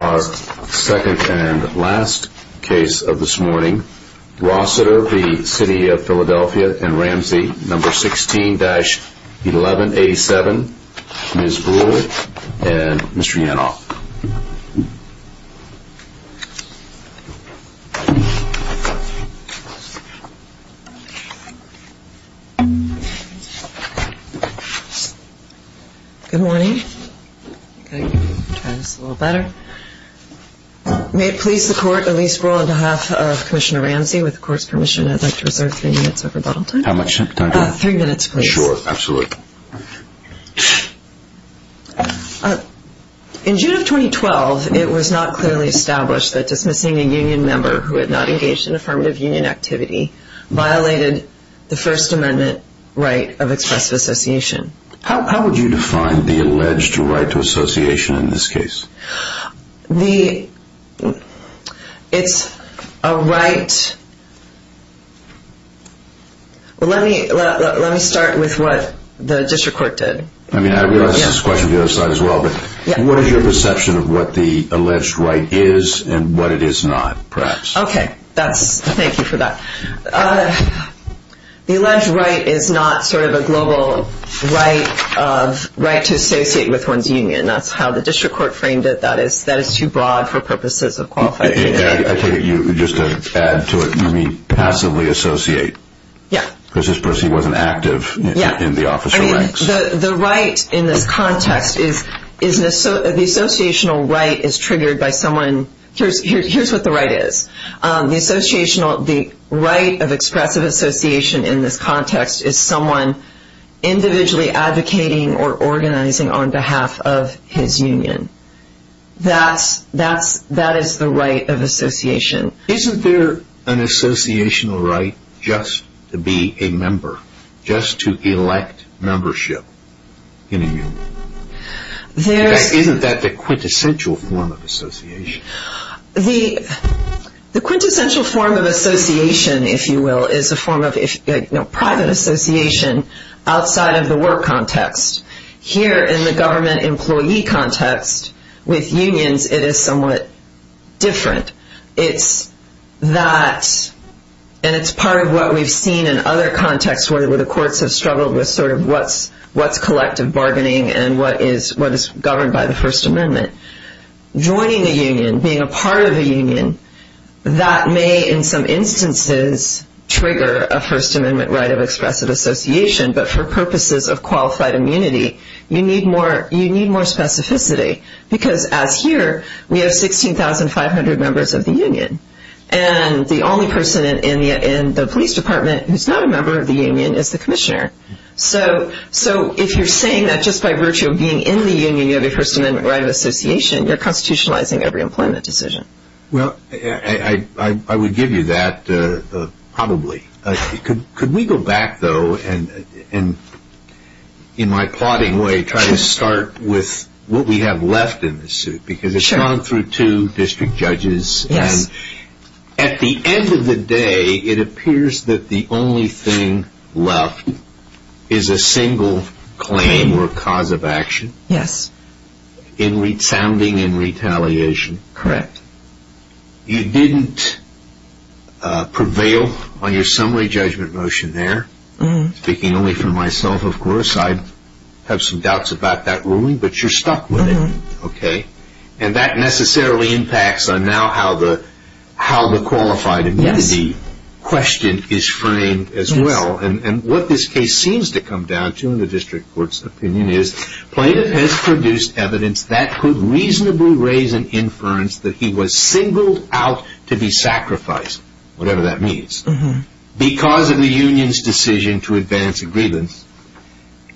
Our second and last case of this morning. Rossiter v. City of Philadelphia and Ramsey, No. 16-1187. Ms. Brewer and Mr. Yanov. Good morning. May it please the Court, in the least broad behalf of Commissioner Ramsey, with the Court's permission, I'd like to reserve three minutes of rebuttal time. How much time do I have? Three minutes, please. Sure, absolutely. In June of 2012, it was not clearly established that dismissing a union member who had not engaged in affirmative union activity violated the First Amendment right of expressive association. How would you define the alleged right to association in this case? It's a right... Well, let me start with what the district court did. I realize this is a question for the other side as well, but what is your perception of what the alleged right is and what it is not, perhaps? Okay, thank you for that. The alleged right is not sort of a global right to associate with one's union. That's how the district court framed it. That is too broad for purposes of qualifying. I take it you, just to add to it, you mean passively associate? Yeah. Because this person wasn't active in the officer ranks. The right in this context is the associational right is triggered by someone... Here's what the right is. The right of expressive association in this context is someone individually advocating or organizing on behalf of his union. That is the right of association. Isn't there an associational right just to be a member, just to elect membership in a union? Isn't that the quintessential form of association? The quintessential form of association, if you will, is a form of private association outside of the work context. Here in the government employee context, with unions, it is somewhat different. It's that, and it's part of what we've seen in other contexts where the courts have struggled with sort of what's collective bargaining and what is governed by the First Amendment. Joining a union, being a part of a union, that may in some instances trigger a First Amendment right of expressive association. But for purposes of qualified immunity, you need more specificity. Because as here, we have 16,500 members of the union. And the only person in the police department who's not a member of the union is the commissioner. So if you're saying that just by virtue of being in the union, you have a First Amendment right of association, you're constitutionalizing every employment decision. Well, I would give you that probably. Could we go back, though, and in my plodding way, try to start with what we have left in the suit? Because it's gone through two district judges. Yes. And at the end of the day, it appears that the only thing left is a single claim or cause of action. Yes. Sounding in retaliation. Correct. You didn't prevail on your summary judgment motion there. Speaking only for myself, of course, I have some doubts about that ruling, but you're stuck with it. Okay. And that necessarily impacts on now how the qualified immunity question is framed as well. And what this case seems to come down to in the district court's opinion is plaintiff has produced evidence that could reasonably raise an inference that he was singled out to be sacrificed, whatever that means, because of the union's decision to advance a grievance.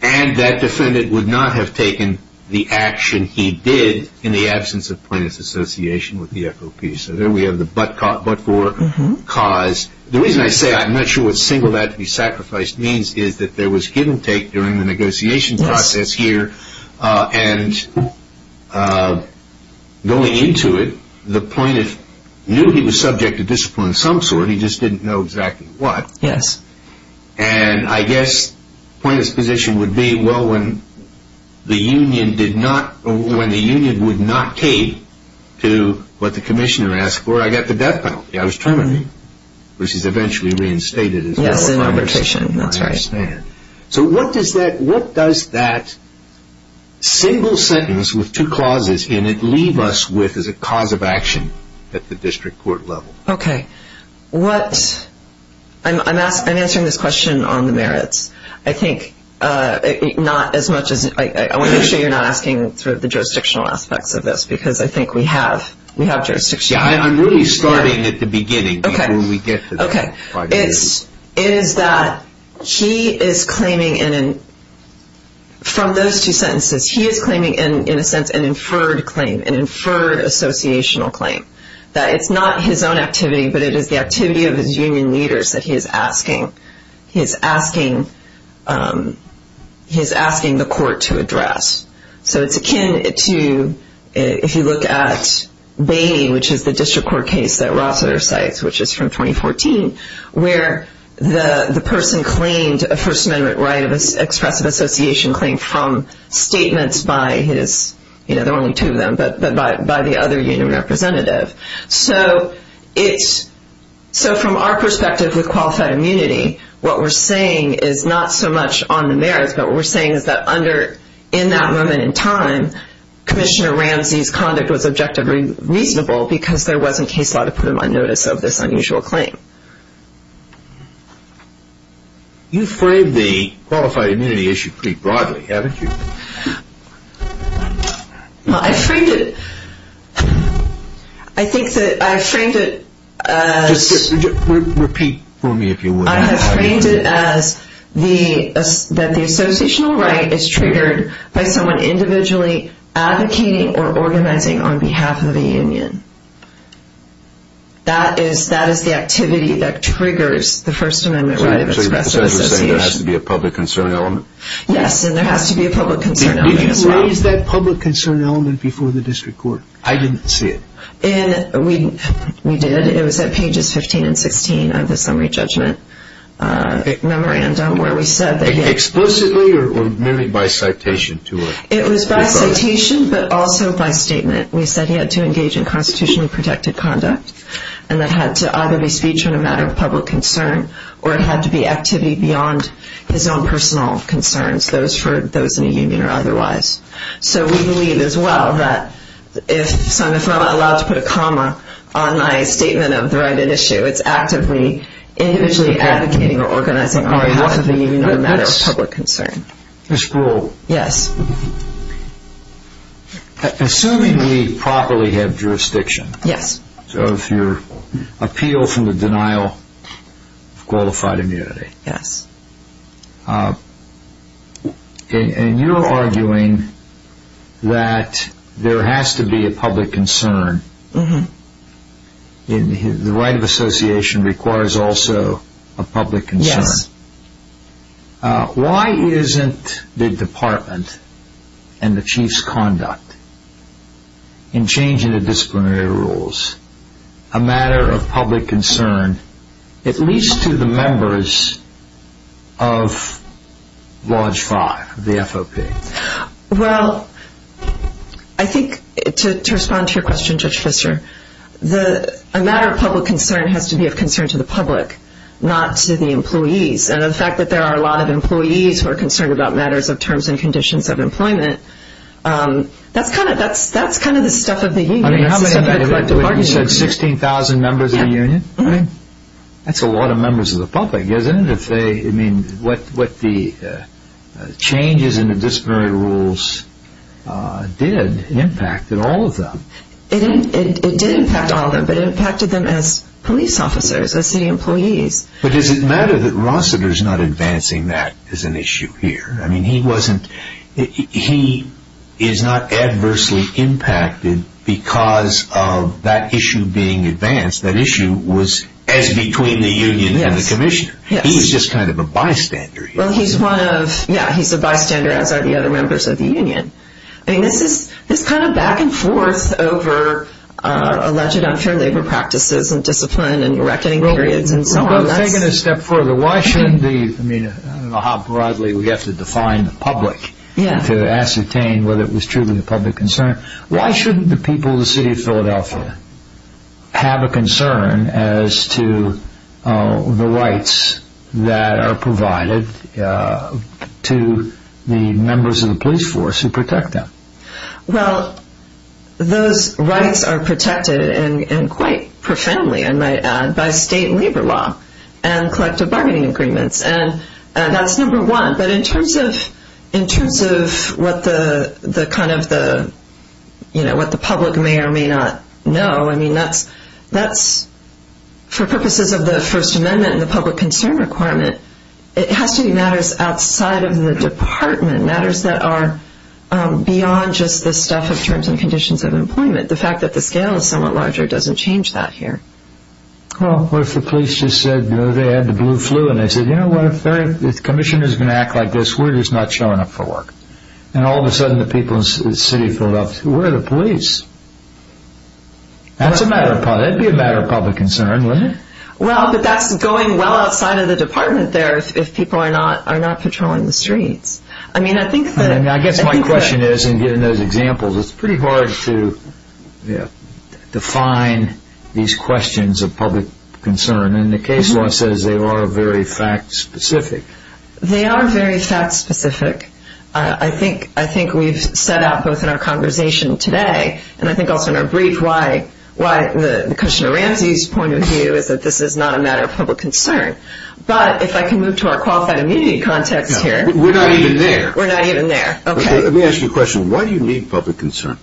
And that defendant would not have taken the action he did in the absence of plaintiff's association with the FOP. So there we have the but-for cause. The reason I say I'm not sure what singled out to be sacrificed means is that there was give and take during the negotiation process here. And going into it, the plaintiff knew he was subject to discipline of some sort. He just didn't know exactly what. Yes. And I guess plaintiff's position would be, well, when the union did not – when the union would not cave to what the commissioner asked for, I got the death penalty. I was terminated, which is eventually reinstated as well. Yes. That's right. So what does that – what does that single sentence with two clauses in it leave us with as a cause of action at the district court level? Okay. What – I'm asking – I'm answering this question on the merits. I think not as much as – I want to make sure you're not asking sort of the jurisdictional aspects of this, because I think we have – we have jurisdiction. Yes, I'm really starting at the beginning. Okay. Before we get to that. Okay. It is that he is claiming in – from those two sentences, he is claiming in a sense an inferred claim, an inferred associational claim. That it's not his own activity, but it is the activity of his union leaders that he is asking – he is asking – he is asking the court to address. So it's akin to – if you look at Bamey, which is the district court case that Rossiter cites, which is from 2014, where the person claimed a First Amendment right of expressive association claim from statements by his – you know, there are only two of them, but by the other union representative. So it's – so from our perspective with qualified immunity, what we're saying is not so much on the merits, but what we're saying is that under – in that moment in time, Commissioner Ramsey's conduct was objectively reasonable, because there wasn't case law to put him on notice of this unusual claim. You framed the qualified immunity issue pretty broadly, haven't you? Well, I framed it – I think that I framed it as – Repeat for me, if you would. I have framed it as the – that the associational right is triggered by someone individually advocating or organizing on behalf of a union. That is – that is the activity that triggers the First Amendment right of expressive association. So you're saying there has to be a public concern element? Yes, and there has to be a public concern element as well. Did you raise that public concern element before the district court? I didn't see it. We did. It was at pages 15 and 16 of the summary judgment memorandum, where we said that he had – Explicitly or merely by citation to a – It was by citation, but also by statement. We said he had to engage in constitutionally protected conduct, and it had to either be speech on a matter of public concern, or it had to be activity beyond his own personal concerns, those for – those in a union or otherwise. So we believe as well that if – so if I'm allowed to put a comma on my statement of the right at issue, it's actively individually advocating or organizing on behalf of the union on a matter of public concern. Ms. Grewal. Yes. Assuming we properly have jurisdiction. Yes. So if your appeal from the denial of qualified immunity. Yes. And you're arguing that there has to be a public concern. The right of association requires also a public concern. Yes. Why isn't the department and the chief's conduct in changing the disciplinary rules a matter of public concern, at least to the members of Lodge 5, the FOP? Well, I think to respond to your question, Judge Pfister, a matter of public concern has to be of concern to the public, not to the employees. And the fact that there are a lot of employees who are concerned about matters of terms and conditions of employment, that's kind of the stuff of the union. You said 16,000 members of the union? Yes. That's a lot of members of the public, isn't it? What the changes in the disciplinary rules did impacted all of them. It did impact all of them, but it impacted them as police officers, as city employees. But does it matter that Rossiter is not advancing that as an issue here? I mean, he wasn't – he is not adversely impacted because of that issue being advanced. That issue was as between the union and the commissioner. Yes. He was just kind of a bystander here. Well, he's one of – yeah, he's a bystander, as are the other members of the union. I mean, this is kind of back and forth over alleged unfair labor practices and discipline and reckoning periods and so on. Well, let's take it a step further. Why shouldn't the – I mean, I don't know how broadly we have to define the public to ascertain whether it was truly a public concern. Why shouldn't the people of the city of Philadelphia have a concern as to the rights that are provided to the members of the police force who protect them? Well, those rights are protected, and quite profoundly, I might add, by state labor law and collective bargaining agreements. That's number one. But in terms of what the kind of the – you know, what the public may or may not know, I mean, that's – for purposes of the First Amendment and the public concern requirement, it has to be matters outside of the department, matters that are beyond just the stuff of terms and conditions of employment. The fact that the scale is somewhat larger doesn't change that here. Well, what if the police just said the other day they had the blue flu and they said, you know what, if the commissioner is going to act like this, we're just not showing up for work. And all of a sudden the people in the city of Philadelphia, where are the police? That's a matter of – that would be a matter of public concern, wouldn't it? Well, but that's going well outside of the department there if people are not patrolling the streets. I mean, I think that – I guess my question is, and given those examples, it's pretty hard to define these questions of public concern. And the case law says they are very fact-specific. They are very fact-specific. I think we've set out both in our conversation today and I think also in our brief why Commissioner Ramsey's point of view is that this is not a matter of public concern. But if I can move to our qualified immunity context here – We're not even there. We're not even there. Let me ask you a question. Why do you need public concern?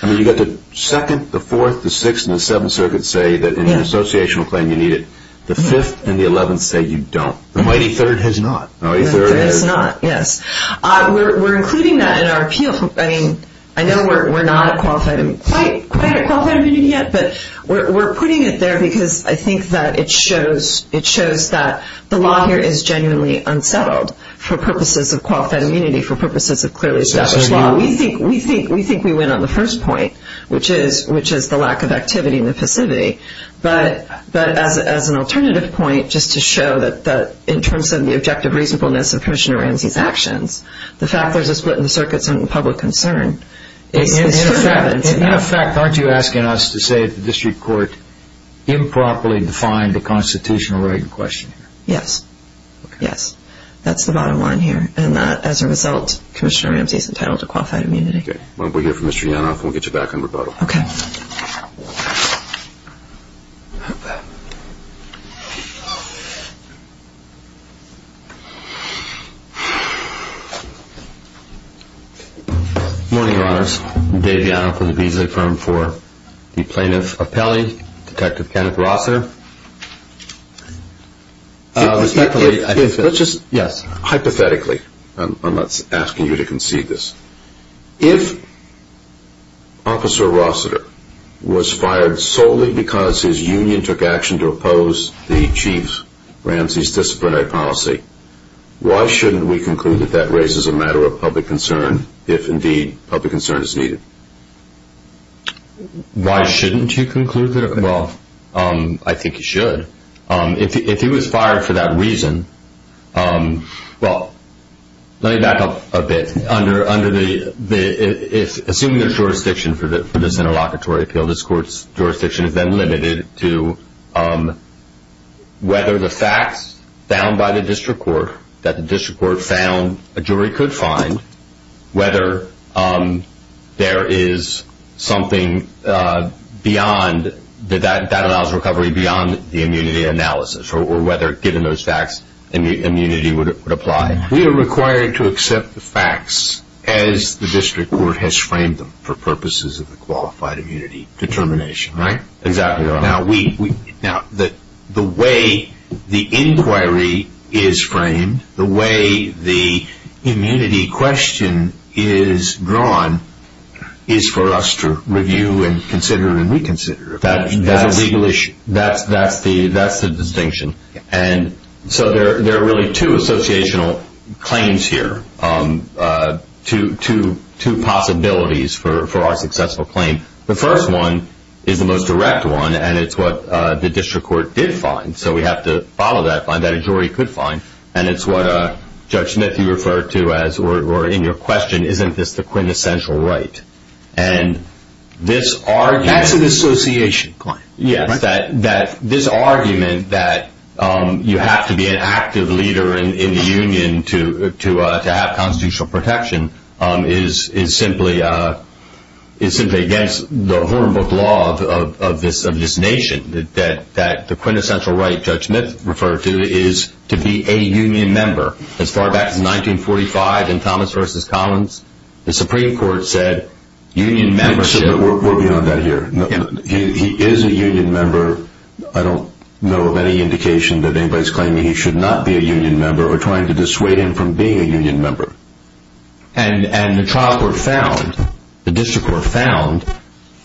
I mean, you've got the 2nd, the 4th, the 6th, and the 7th circuits say that in an associational claim you need it. The 5th and the 11th say you don't. The mighty 3rd has not. The mighty 3rd has not, yes. We're including that in our appeal. I mean, I know we're not quite at qualified immunity yet, but we're putting it there because I think that it shows that the law here is genuinely unsettled for purposes of qualified immunity, for purposes of clearly established law. We think we win on the first point, which is the lack of activity in the facility. But as an alternative point, just to show that in terms of the objective reasonableness of Commissioner Ramsey's actions, the fact that there's a split in the circuits on public concern – In effect, aren't you asking us to say that the district court improperly defined the constitutional right in question? Yes. Yes. That's the bottom line here. And that, as a result, Commissioner Ramsey is entitled to qualified immunity. Okay. Why don't we hear from Mr. Yanov, and we'll get you back on rebuttal. Okay. Good morning, Your Honors. I'm Dave Yanov with the Visa Firm for the Plaintiff Appellee, Detective Kenneth Rosser. Respectfully, I think that – Let's just – Yes. Hypothetically, I'm not asking you to concede this. If Officer Rossiter was fired solely because his union took action to oppose the Chief Ramsey's disciplinary policy, why shouldn't we conclude that that raises a matter of public concern if, indeed, public concern is needed? Why shouldn't you conclude that – Well, I think you should. If he was fired for that reason – Well, let me back up a bit. Under the – Assuming there's jurisdiction for this interlocutory appeal, this court's jurisdiction is then limited to whether the facts found by the district court, that the district court found a jury could find, whether there is something beyond – that allows recovery beyond the immunity analysis, or whether, given those facts, immunity would apply. We are required to accept the facts as the district court has framed them for purposes of the qualified immunity determination, right? Exactly, Your Honor. Now, the way the inquiry is framed, the way the immunity question is drawn, is for us to review and consider and reconsider. That's a legal issue. That's the distinction. And so there are really two associational claims here, two possibilities for our successful claim. The first one is the most direct one, and it's what the district court did find. So we have to follow that, find that a jury could find. And it's what Judge Smith, you referred to as – or in your question, isn't this the quintessential right? And this argument – That's an association claim, right? This argument that you have to be an active leader in the union to have constitutional protection is simply against the hornbook law of this nation, that the quintessential right Judge Smith referred to is to be a union member. As far back as 1945 in Thomas v. Collins, the Supreme Court said union membership – We're beyond that here. He is a union member. I don't know of any indication that anybody's claiming he should not be a union member or trying to dissuade him from being a union member. And the trial court found, the district court found,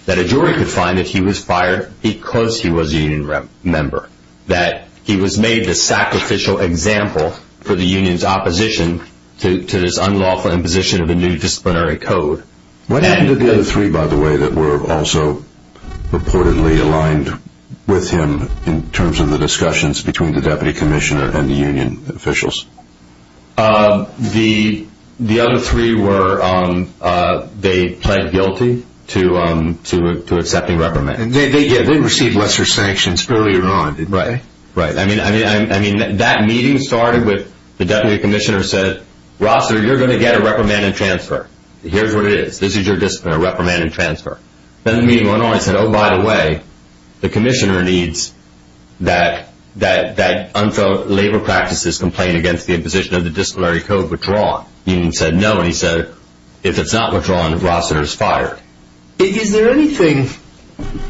that a jury could find that he was fired because he was a union member, that he was made the sacrificial example for the union's opposition to this unlawful imposition of a new disciplinary code. What happened to the other three, by the way, that were also reportedly aligned with him in terms of the discussions between the deputy commissioner and the union officials? The other three were – they pled guilty to accepting reprimand. Yeah, they received lesser sanctions earlier on, didn't they? Right. I mean, that meeting started with the deputy commissioner said, Rossiter, you're going to get a reprimand and transfer. Here's what it is. This is your discipline, a reprimand and transfer. Then the meeting went on and said, oh, by the way, the commissioner needs that unfilled labor practices complaint against the imposition of the disciplinary code withdrawn. Union said no, and he said, if it's not withdrawn, Rossiter's fired. Is there anything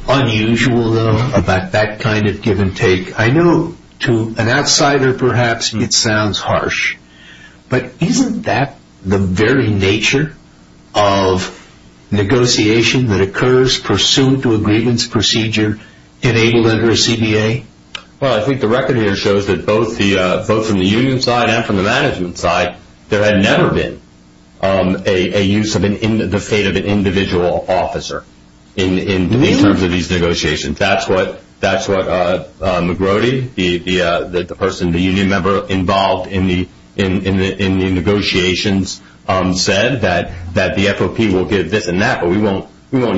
unusual, though, about that kind of give and take? I know to an outsider, perhaps, it sounds harsh. But isn't that the very nature of negotiation that occurs pursuant to a grievance procedure enabled under a CBA? Well, I think the record here shows that both from the union side and from the management side, there had never been a use of the fate of an individual officer in terms of these negotiations. That's what McGrody, the person, the union member involved in the negotiations, said, that the FOP will give this and that, but we won't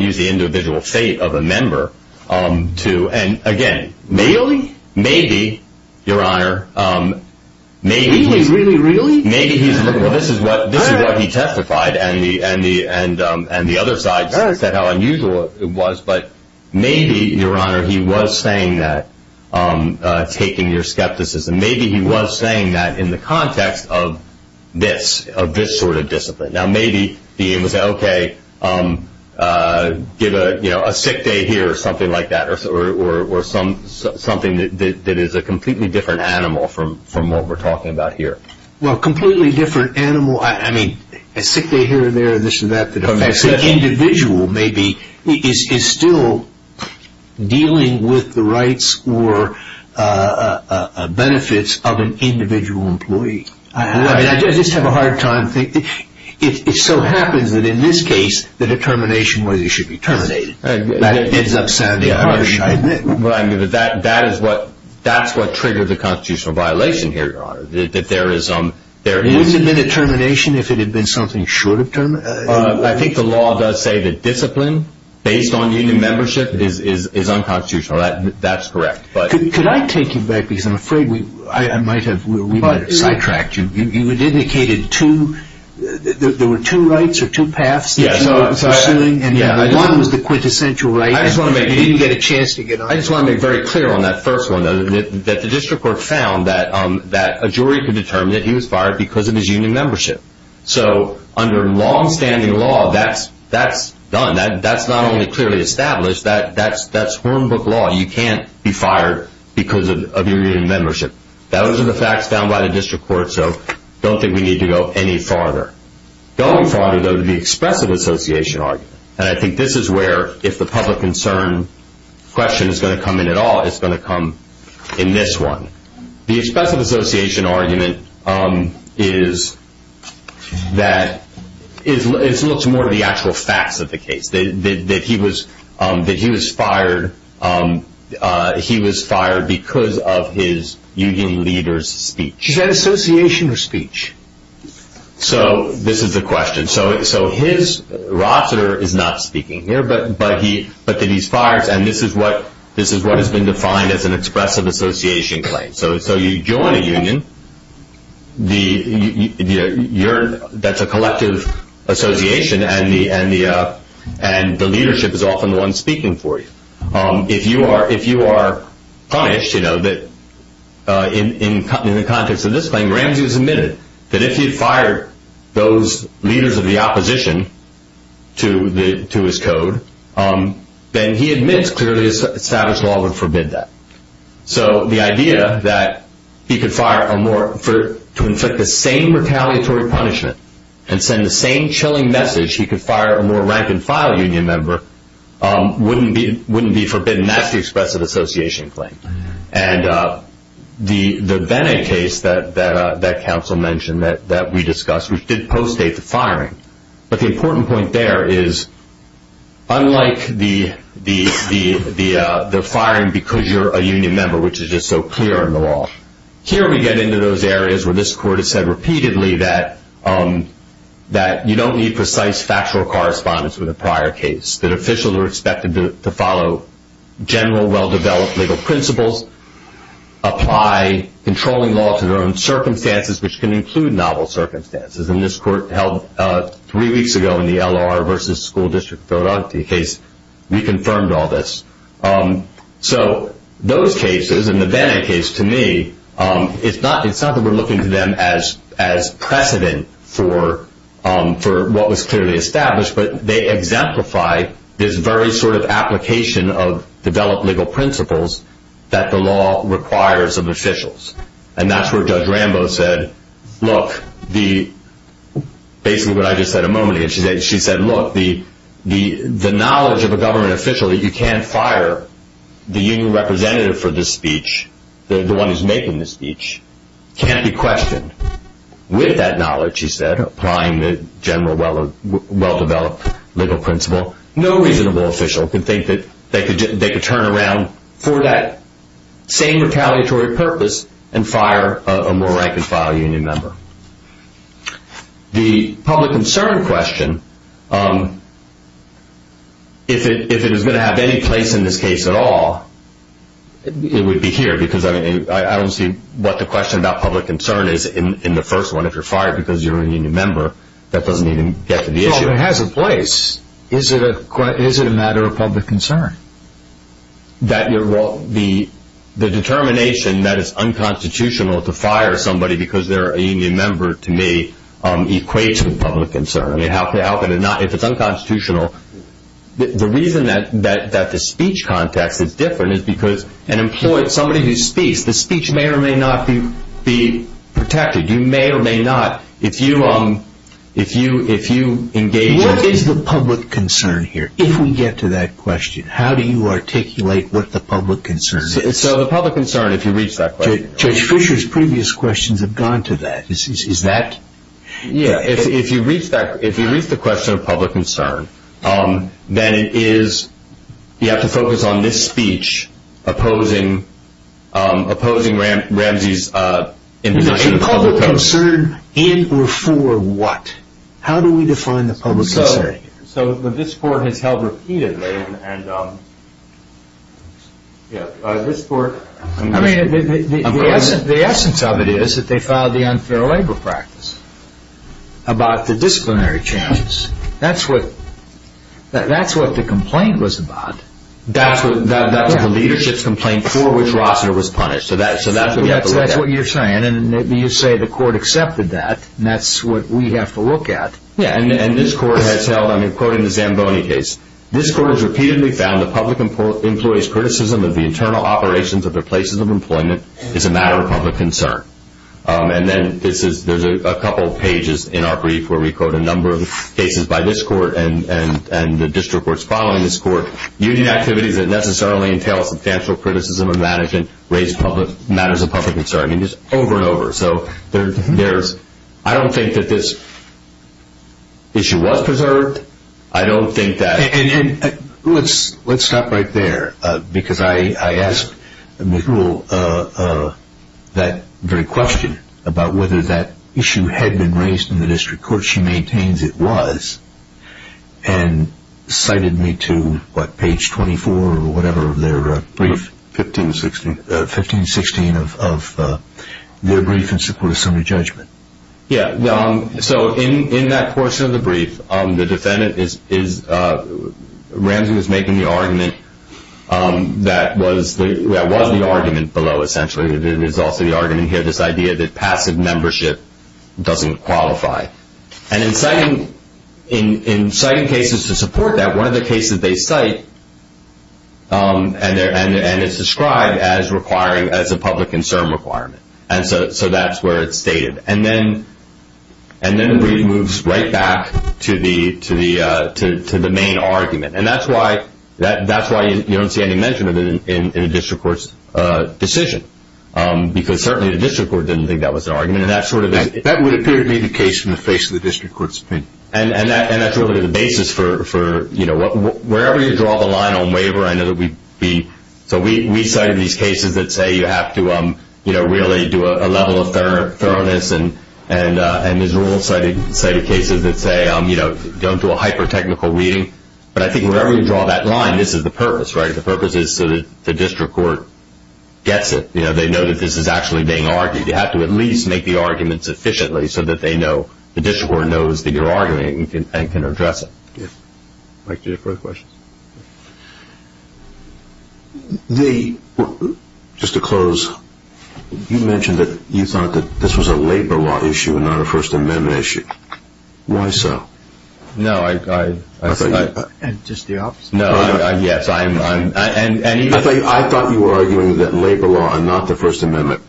use the individual fate of a member to. And again, maybe, maybe, Your Honor, maybe. Really, really, really? Maybe. Well, this is what he testified, and the other side said how unusual it was. But maybe, Your Honor, he was saying that, taking your skepticism, maybe he was saying that in the context of this, of this sort of discipline. Now, maybe he was saying, okay, give a sick day here or something like that, or something that is a completely different animal from what we're talking about here. Well, a completely different animal, I mean, a sick day here or there, this or that, the individual maybe is still dealing with the rights or benefits of an individual employee. I just have a hard time thinking. It so happens that in this case, the determination was he should be terminated. That ends up sounding harsh, I admit. Well, I mean, that is what triggered the constitutional violation here, Your Honor. Wouldn't it have been a termination if it had been something short of termination? I think the law does say that discipline based on union membership is unconstitutional. That's correct. Could I take you back, because I'm afraid we might have sidetracked you. You indicated there were two rights or two paths that you were pursuing, and one was the quintessential right, and you didn't get a chance to get on it. I just want to make very clear on that first one, though, that the district court found that a jury could determine that he was fired because of his union membership. So under longstanding law, that's done. That's not only clearly established, that's hornbook law. You can't be fired because of your union membership. Those are the facts found by the district court, so I don't think we need to go any farther. Going farther, though, to the expressive association argument, and I think this is where if the public concern question is going to come in at all, it's going to come in this one. The expressive association argument is that it's more to the actual facts of the case, that he was fired because of his union leader's speech. Is that association or speech? So this is the question. So his roster is not speaking here, but that he's fired, and this is what has been defined as an expressive association claim. So you join a union that's a collective association, and the leadership is often the one speaking for you. If you are punished in the context of this claim, Ramsey has admitted that if he had fired those leaders of the opposition to his code, then he admits clearly established law would forbid that. So the idea that he could fire a more, to inflict the same retaliatory punishment and send the same chilling message he could fire a more rank-and-file union member, wouldn't be forbidden. That's the expressive association claim. And the Bennett case that counsel mentioned that we discussed, which did post-date the firing, but the important point there is unlike the firing because you're a union member, which is just so clear in the law, here we get into those areas where this court has said repeatedly that you don't need precise factual correspondence with a prior case, that officials are expected to follow general, well-developed legal principles, apply controlling law to their own circumstances, which can include novel circumstances. And this court held three weeks ago in the LOR versus School District Philanthropy case, we confirmed all this. So those cases, and the Bennett case to me, it's not that we're looking to them as precedent for what was clearly established, but they exemplify this very sort of application of developed legal principles that the law requires of officials. And that's where Judge Rambo said, look, basically what I just said a moment ago, she said, look, the knowledge of a government official that you can't fire the union representative for this speech, the one who's making this speech, can't be questioned. With that knowledge, she said, applying the general, well-developed legal principle, no reasonable official could think that they could turn around for that same retaliatory purpose and fire a more rank-and-file union member. The public concern question, if it was going to have any place in this case at all, it would be here, because I don't see what the question about public concern is in the first one. If you're fired because you're a union member, that doesn't even get to the issue. But if it has a place, is it a matter of public concern? The determination that it's unconstitutional to fire somebody because they're a union member, to me, equates with public concern. If it's unconstitutional, the reason that the speech context is different is because an employee, somebody who speaks, the speech may or may not be protected. What is the public concern here, if we get to that question? How do you articulate what the public concern is? The public concern, if you reach that question. Judge Fischer's previous questions have gone to that. If you reach the question of public concern, then you have to focus on this speech opposing Ramsey's introduction. Is it to public concern and or for what? How do we define the public concern? So this court has held repeatedly, and this court... I mean, the essence of it is that they filed the unfair labor practice about the disciplinary changes. That's what the complaint was about. That's the leadership's complaint for which Rossner was punished. So that's what you're saying, and you say the court accepted that. That's what we have to look at. Yeah, and this court has held, I mean, quoting the Zamboni case, this court has repeatedly found the public employee's criticism of the internal operations of their places of employment is a matter of public concern. And then there's a couple pages in our brief where we quote a number of cases by this court and the district courts following this court, union activities that necessarily entail substantial criticism of management raise public matters of public concern. I mean, just over and over. So I don't think that this issue was preserved. I don't think that... And let's stop right there because I asked Ms. Rule that very question about whether that issue had been raised in the district court. She maintains it was and cited me to, what, page 24 or whatever of their brief. 1516. 1516 of their brief in support of summary judgment. Yeah, so in that portion of the brief, the defendant is... Ramsey was making the argument that was the argument below, essentially. There's also the argument here, this idea that passive membership doesn't qualify. And in citing cases to support that, one of the cases they cite, and it's described as a public concern requirement. And so that's where it's stated. And then the brief moves right back to the main argument. And that's why you don't see any mention of it in a district court's decision because certainly the district court didn't think that was an argument. That would appear to be the case in the face of the district court's opinion. And that's really the basis for, you know, wherever you draw the line on waiver, I know that we'd be... So we cited these cases that say you have to, you know, really do a level of thoroughness. And Ms. Rule cited cases that say, you know, don't do a hyper-technical reading. But I think wherever you draw that line, this is the purpose, right? The purpose is so that the district court gets it. You know, they know that this is actually being argued. You have to at least make the argument sufficiently so that they know, the district court knows that you're arguing it and can address it. Mike, do you have further questions? Just to close, you mentioned that you thought that this was a labor law issue and not a First Amendment issue. Why so? No, I... I thought you... Just the opposite. No, yes, I'm... I thought you were arguing that labor law and not the First Amendment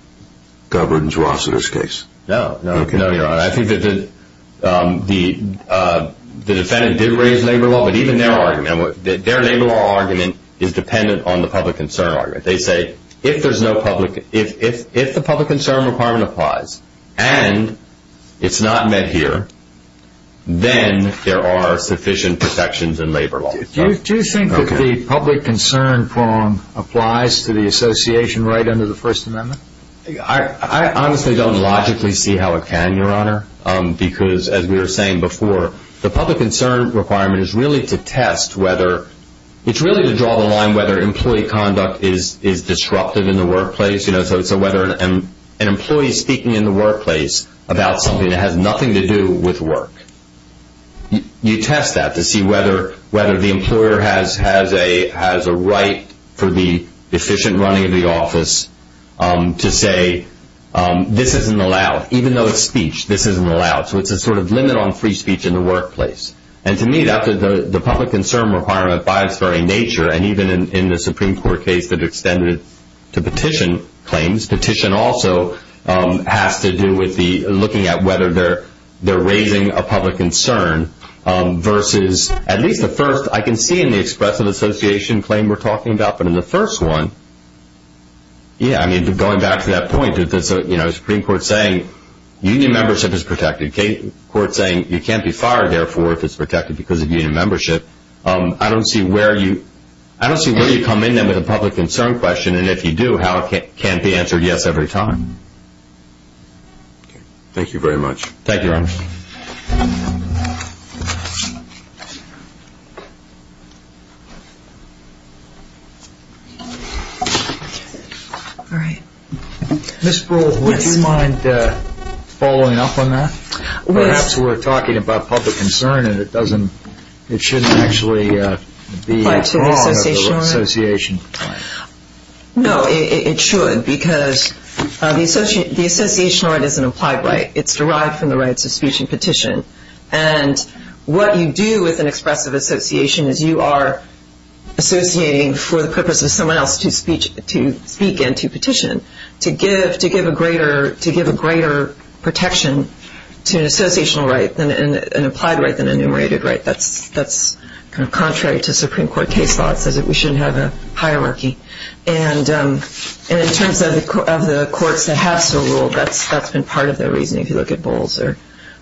governs Rosseter's case. No, no, no, Your Honor. I think that the defendant did raise labor law, but even their argument, their labor law argument is dependent on the public concern argument. They say if there's no public... If the public concern requirement applies and it's not met here, then there are sufficient protections in labor law. Do you think that the public concern form applies to the association right under the First Amendment? I honestly don't logically see how it can, Your Honor, because as we were saying before, the public concern requirement is really to test whether... So whether an employee speaking in the workplace about something that has nothing to do with work, you test that to see whether the employer has a right for the efficient running of the office to say, this isn't allowed, even though it's speech, this isn't allowed. So it's a sort of limit on free speech in the workplace. And to me, the public concern requirement, by its very nature, and even in the Supreme Court case that extended to petition claims, petition also has to do with looking at whether they're raising a public concern versus, at least the first I can see in the expressive association claim we're talking about, but in the first one, yeah, I mean, going back to that point, Supreme Court saying union membership is protected, court saying you can't be fired, therefore, if it's protected because of union membership. I don't see where you come in then with a public concern question, and if you do, how it can't be answered yes every time. Thank you very much. Thank you, Your Honor. Ms. Sproul, would you mind following up on that? Perhaps we're talking about public concern, and it shouldn't actually be wrong of the association. No, it should, because the associational right is an applied right. It's derived from the rights of speech and petition. And what you do with an expressive association is you are associating for the purpose of someone else to speak and to petition to give a greater protection to an associational right, an applied right than a enumerated right. That's kind of contrary to Supreme Court case law. It says that we shouldn't have a hierarchy. And in terms of the courts that have so ruled, that's been part of the reasoning, if you look at Bowles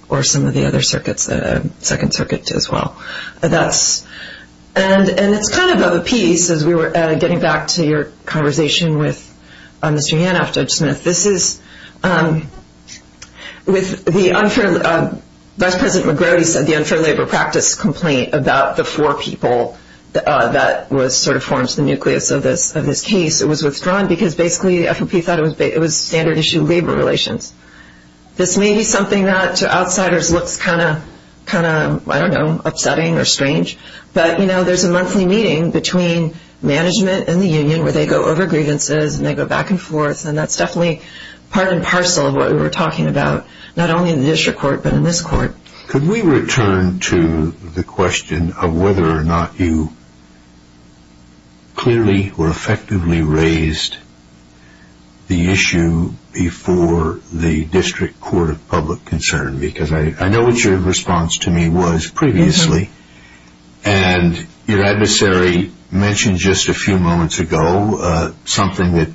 or some of the other circuits, Second Circuit as well. And it's kind of a piece, as we were getting back to your conversation with Mr. Yanoff, Judge Smith, this is with the unfair, Vice President McGrody said, the unfair labor practice complaint about the four people that was sort of formed the nucleus of this case. It was withdrawn because basically the FOP thought it was standard issue labor relations. This may be something that to outsiders looks kind of, I don't know, upsetting or strange. But, you know, there's a monthly meeting between management and the union where they go over grievances and they go back and forth, and that's definitely part and parcel of what we were talking about, not only in the district court but in this court. Could we return to the question of whether or not you clearly or effectively raised the issue before the district court of public concern? Because I know what your response to me was previously, and your adversary mentioned just a few moments ago something that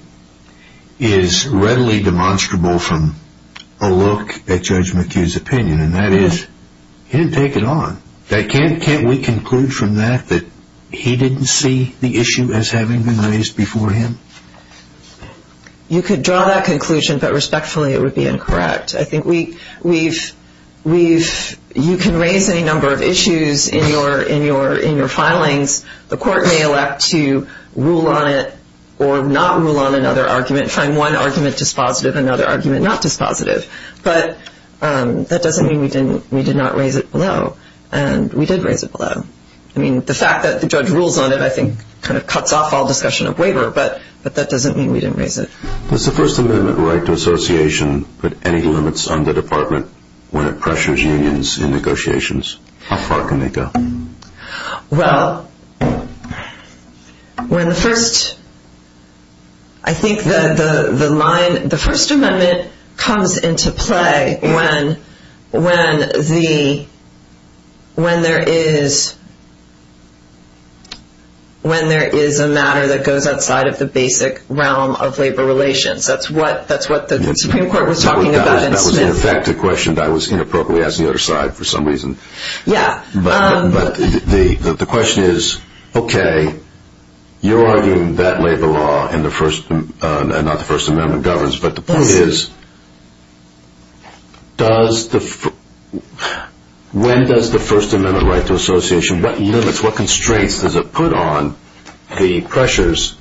is readily demonstrable from a look at Judge McHugh's opinion, and that is he didn't take it on. Can't we conclude from that that he didn't see the issue as having been raised before him? You could draw that conclusion, but respectfully it would be incorrect. I think you can raise any number of issues in your filings. The court may elect to rule on it or not rule on another argument, find one argument dispositive and another argument not dispositive, but that doesn't mean we did not raise it below, and we did raise it below. I mean, the fact that the judge rules on it I think kind of cuts off all discussion of waiver, but that doesn't mean we didn't raise it. Does the First Amendment right to association put any limits on the department when it pressures unions in negotiations? How far can they go? Well, I think the First Amendment comes into play when there is a matter that goes outside of the basic realm of labor relations. That's what the Supreme Court was talking about in Smith. That was, in fact, a question that was inappropriately asked on the other side for some reason. But the question is, okay, you're arguing that labor law and not the First Amendment governs, but the point is when does the First Amendment right to association, what limits, what constraints does it put on the pressures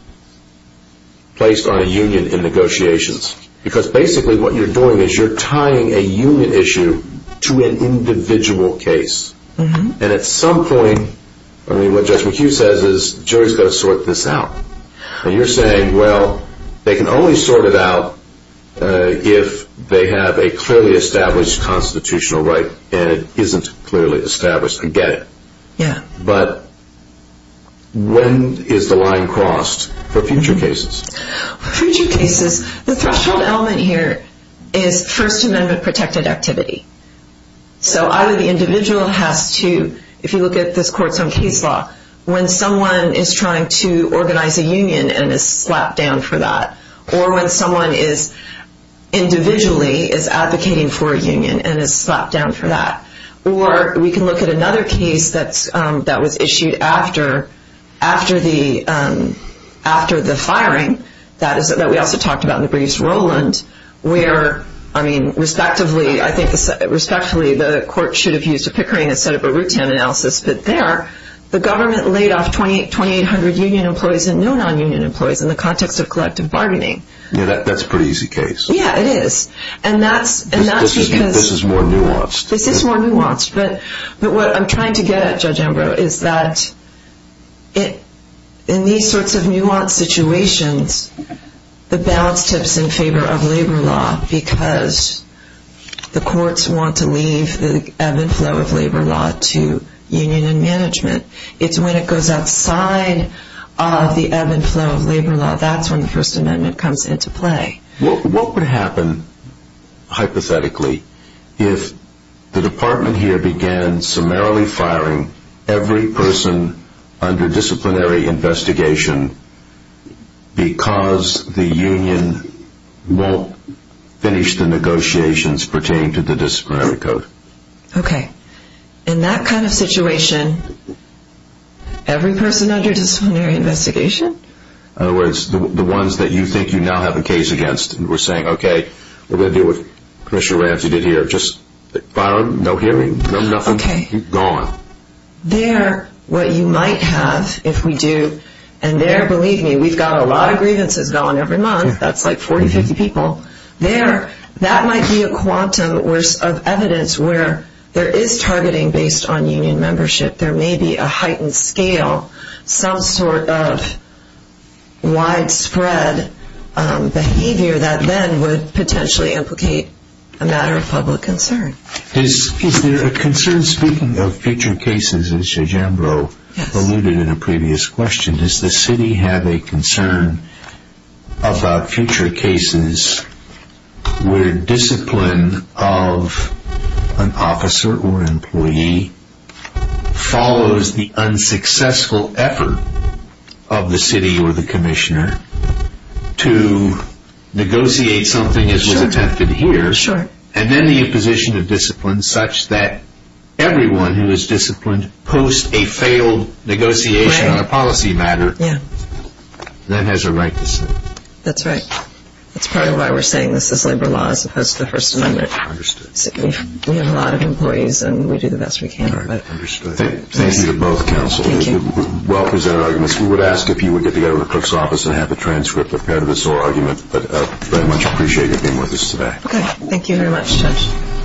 placed on a union in negotiations? Because basically what you're doing is you're tying a union issue to an individual case. And at some point, I mean, what Judge McHugh says is jury's got to sort this out. And you're saying, well, they can only sort it out if they have a clearly established constitutional right and it isn't clearly established. I get it. Yeah. But when is the line crossed for future cases? For future cases, the threshold element here is First Amendment protected activity. So either the individual has to, if you look at this court's own case law, when someone is trying to organize a union and is slapped down for that, or when someone individually is advocating for a union and is slapped down for that. Or we can look at another case that was issued after the firing, that we also talked about in the briefs, Rowland, where, I mean, respectively I think the court should have used a Pickering and set up a Rutan analysis, but there the government laid off 2,800 union employees and no non-union employees in the context of collective bargaining. Yeah, that's a pretty easy case. Yeah, it is. And that's because This is more nuanced. This is more nuanced, but what I'm trying to get at, Judge Ambrose, is that in these sorts of nuanced situations, the balance tips in favor of labor law because the courts want to leave the ebb and flow of labor law to union and management. It's when it goes outside of the ebb and flow of labor law, that's when the First Amendment comes into play. What would happen, hypothetically, if the department here began summarily firing every person under disciplinary investigation because the union won't finish the negotiations pertaining to the disciplinary code? Okay. In that kind of situation, every person under disciplinary investigation? In other words, the ones that you think you now have a case against and we're saying, okay, we're going to do what Commissioner Ramsey did here. Just fire them. No hearing. Nothing. Okay. Gone. There, what you might have if we do, and there, believe me, we've got a lot of grievances going every month. That's like 40, 50 people. There, that might be a quantum of evidence where there is targeting based on union membership. There may be a heightened scale, some sort of widespread behavior that then would potentially implicate a matter of public concern. Is there a concern, speaking of future cases, as Judge Ambrose alluded in a previous question, does the city have a concern about future cases where discipline of an officer or employee follows the unsuccessful effort of the city or the commissioner to negotiate something as was attempted here and then the imposition of discipline such that everyone who is disciplined post a failed negotiation on a policy matter then has a right to sit? That's right. That's part of why we're saying this is labor law as opposed to the First Amendment. Understood. We have a lot of employees and we do the best we can. Understood. Thank you to both counsel. Thank you. Well-presented arguments. We would ask if you would get together with the clerk's office and have a transcript of part of this oral argument, but very much appreciate you being with us today. Okay. Thank you very much, Judge.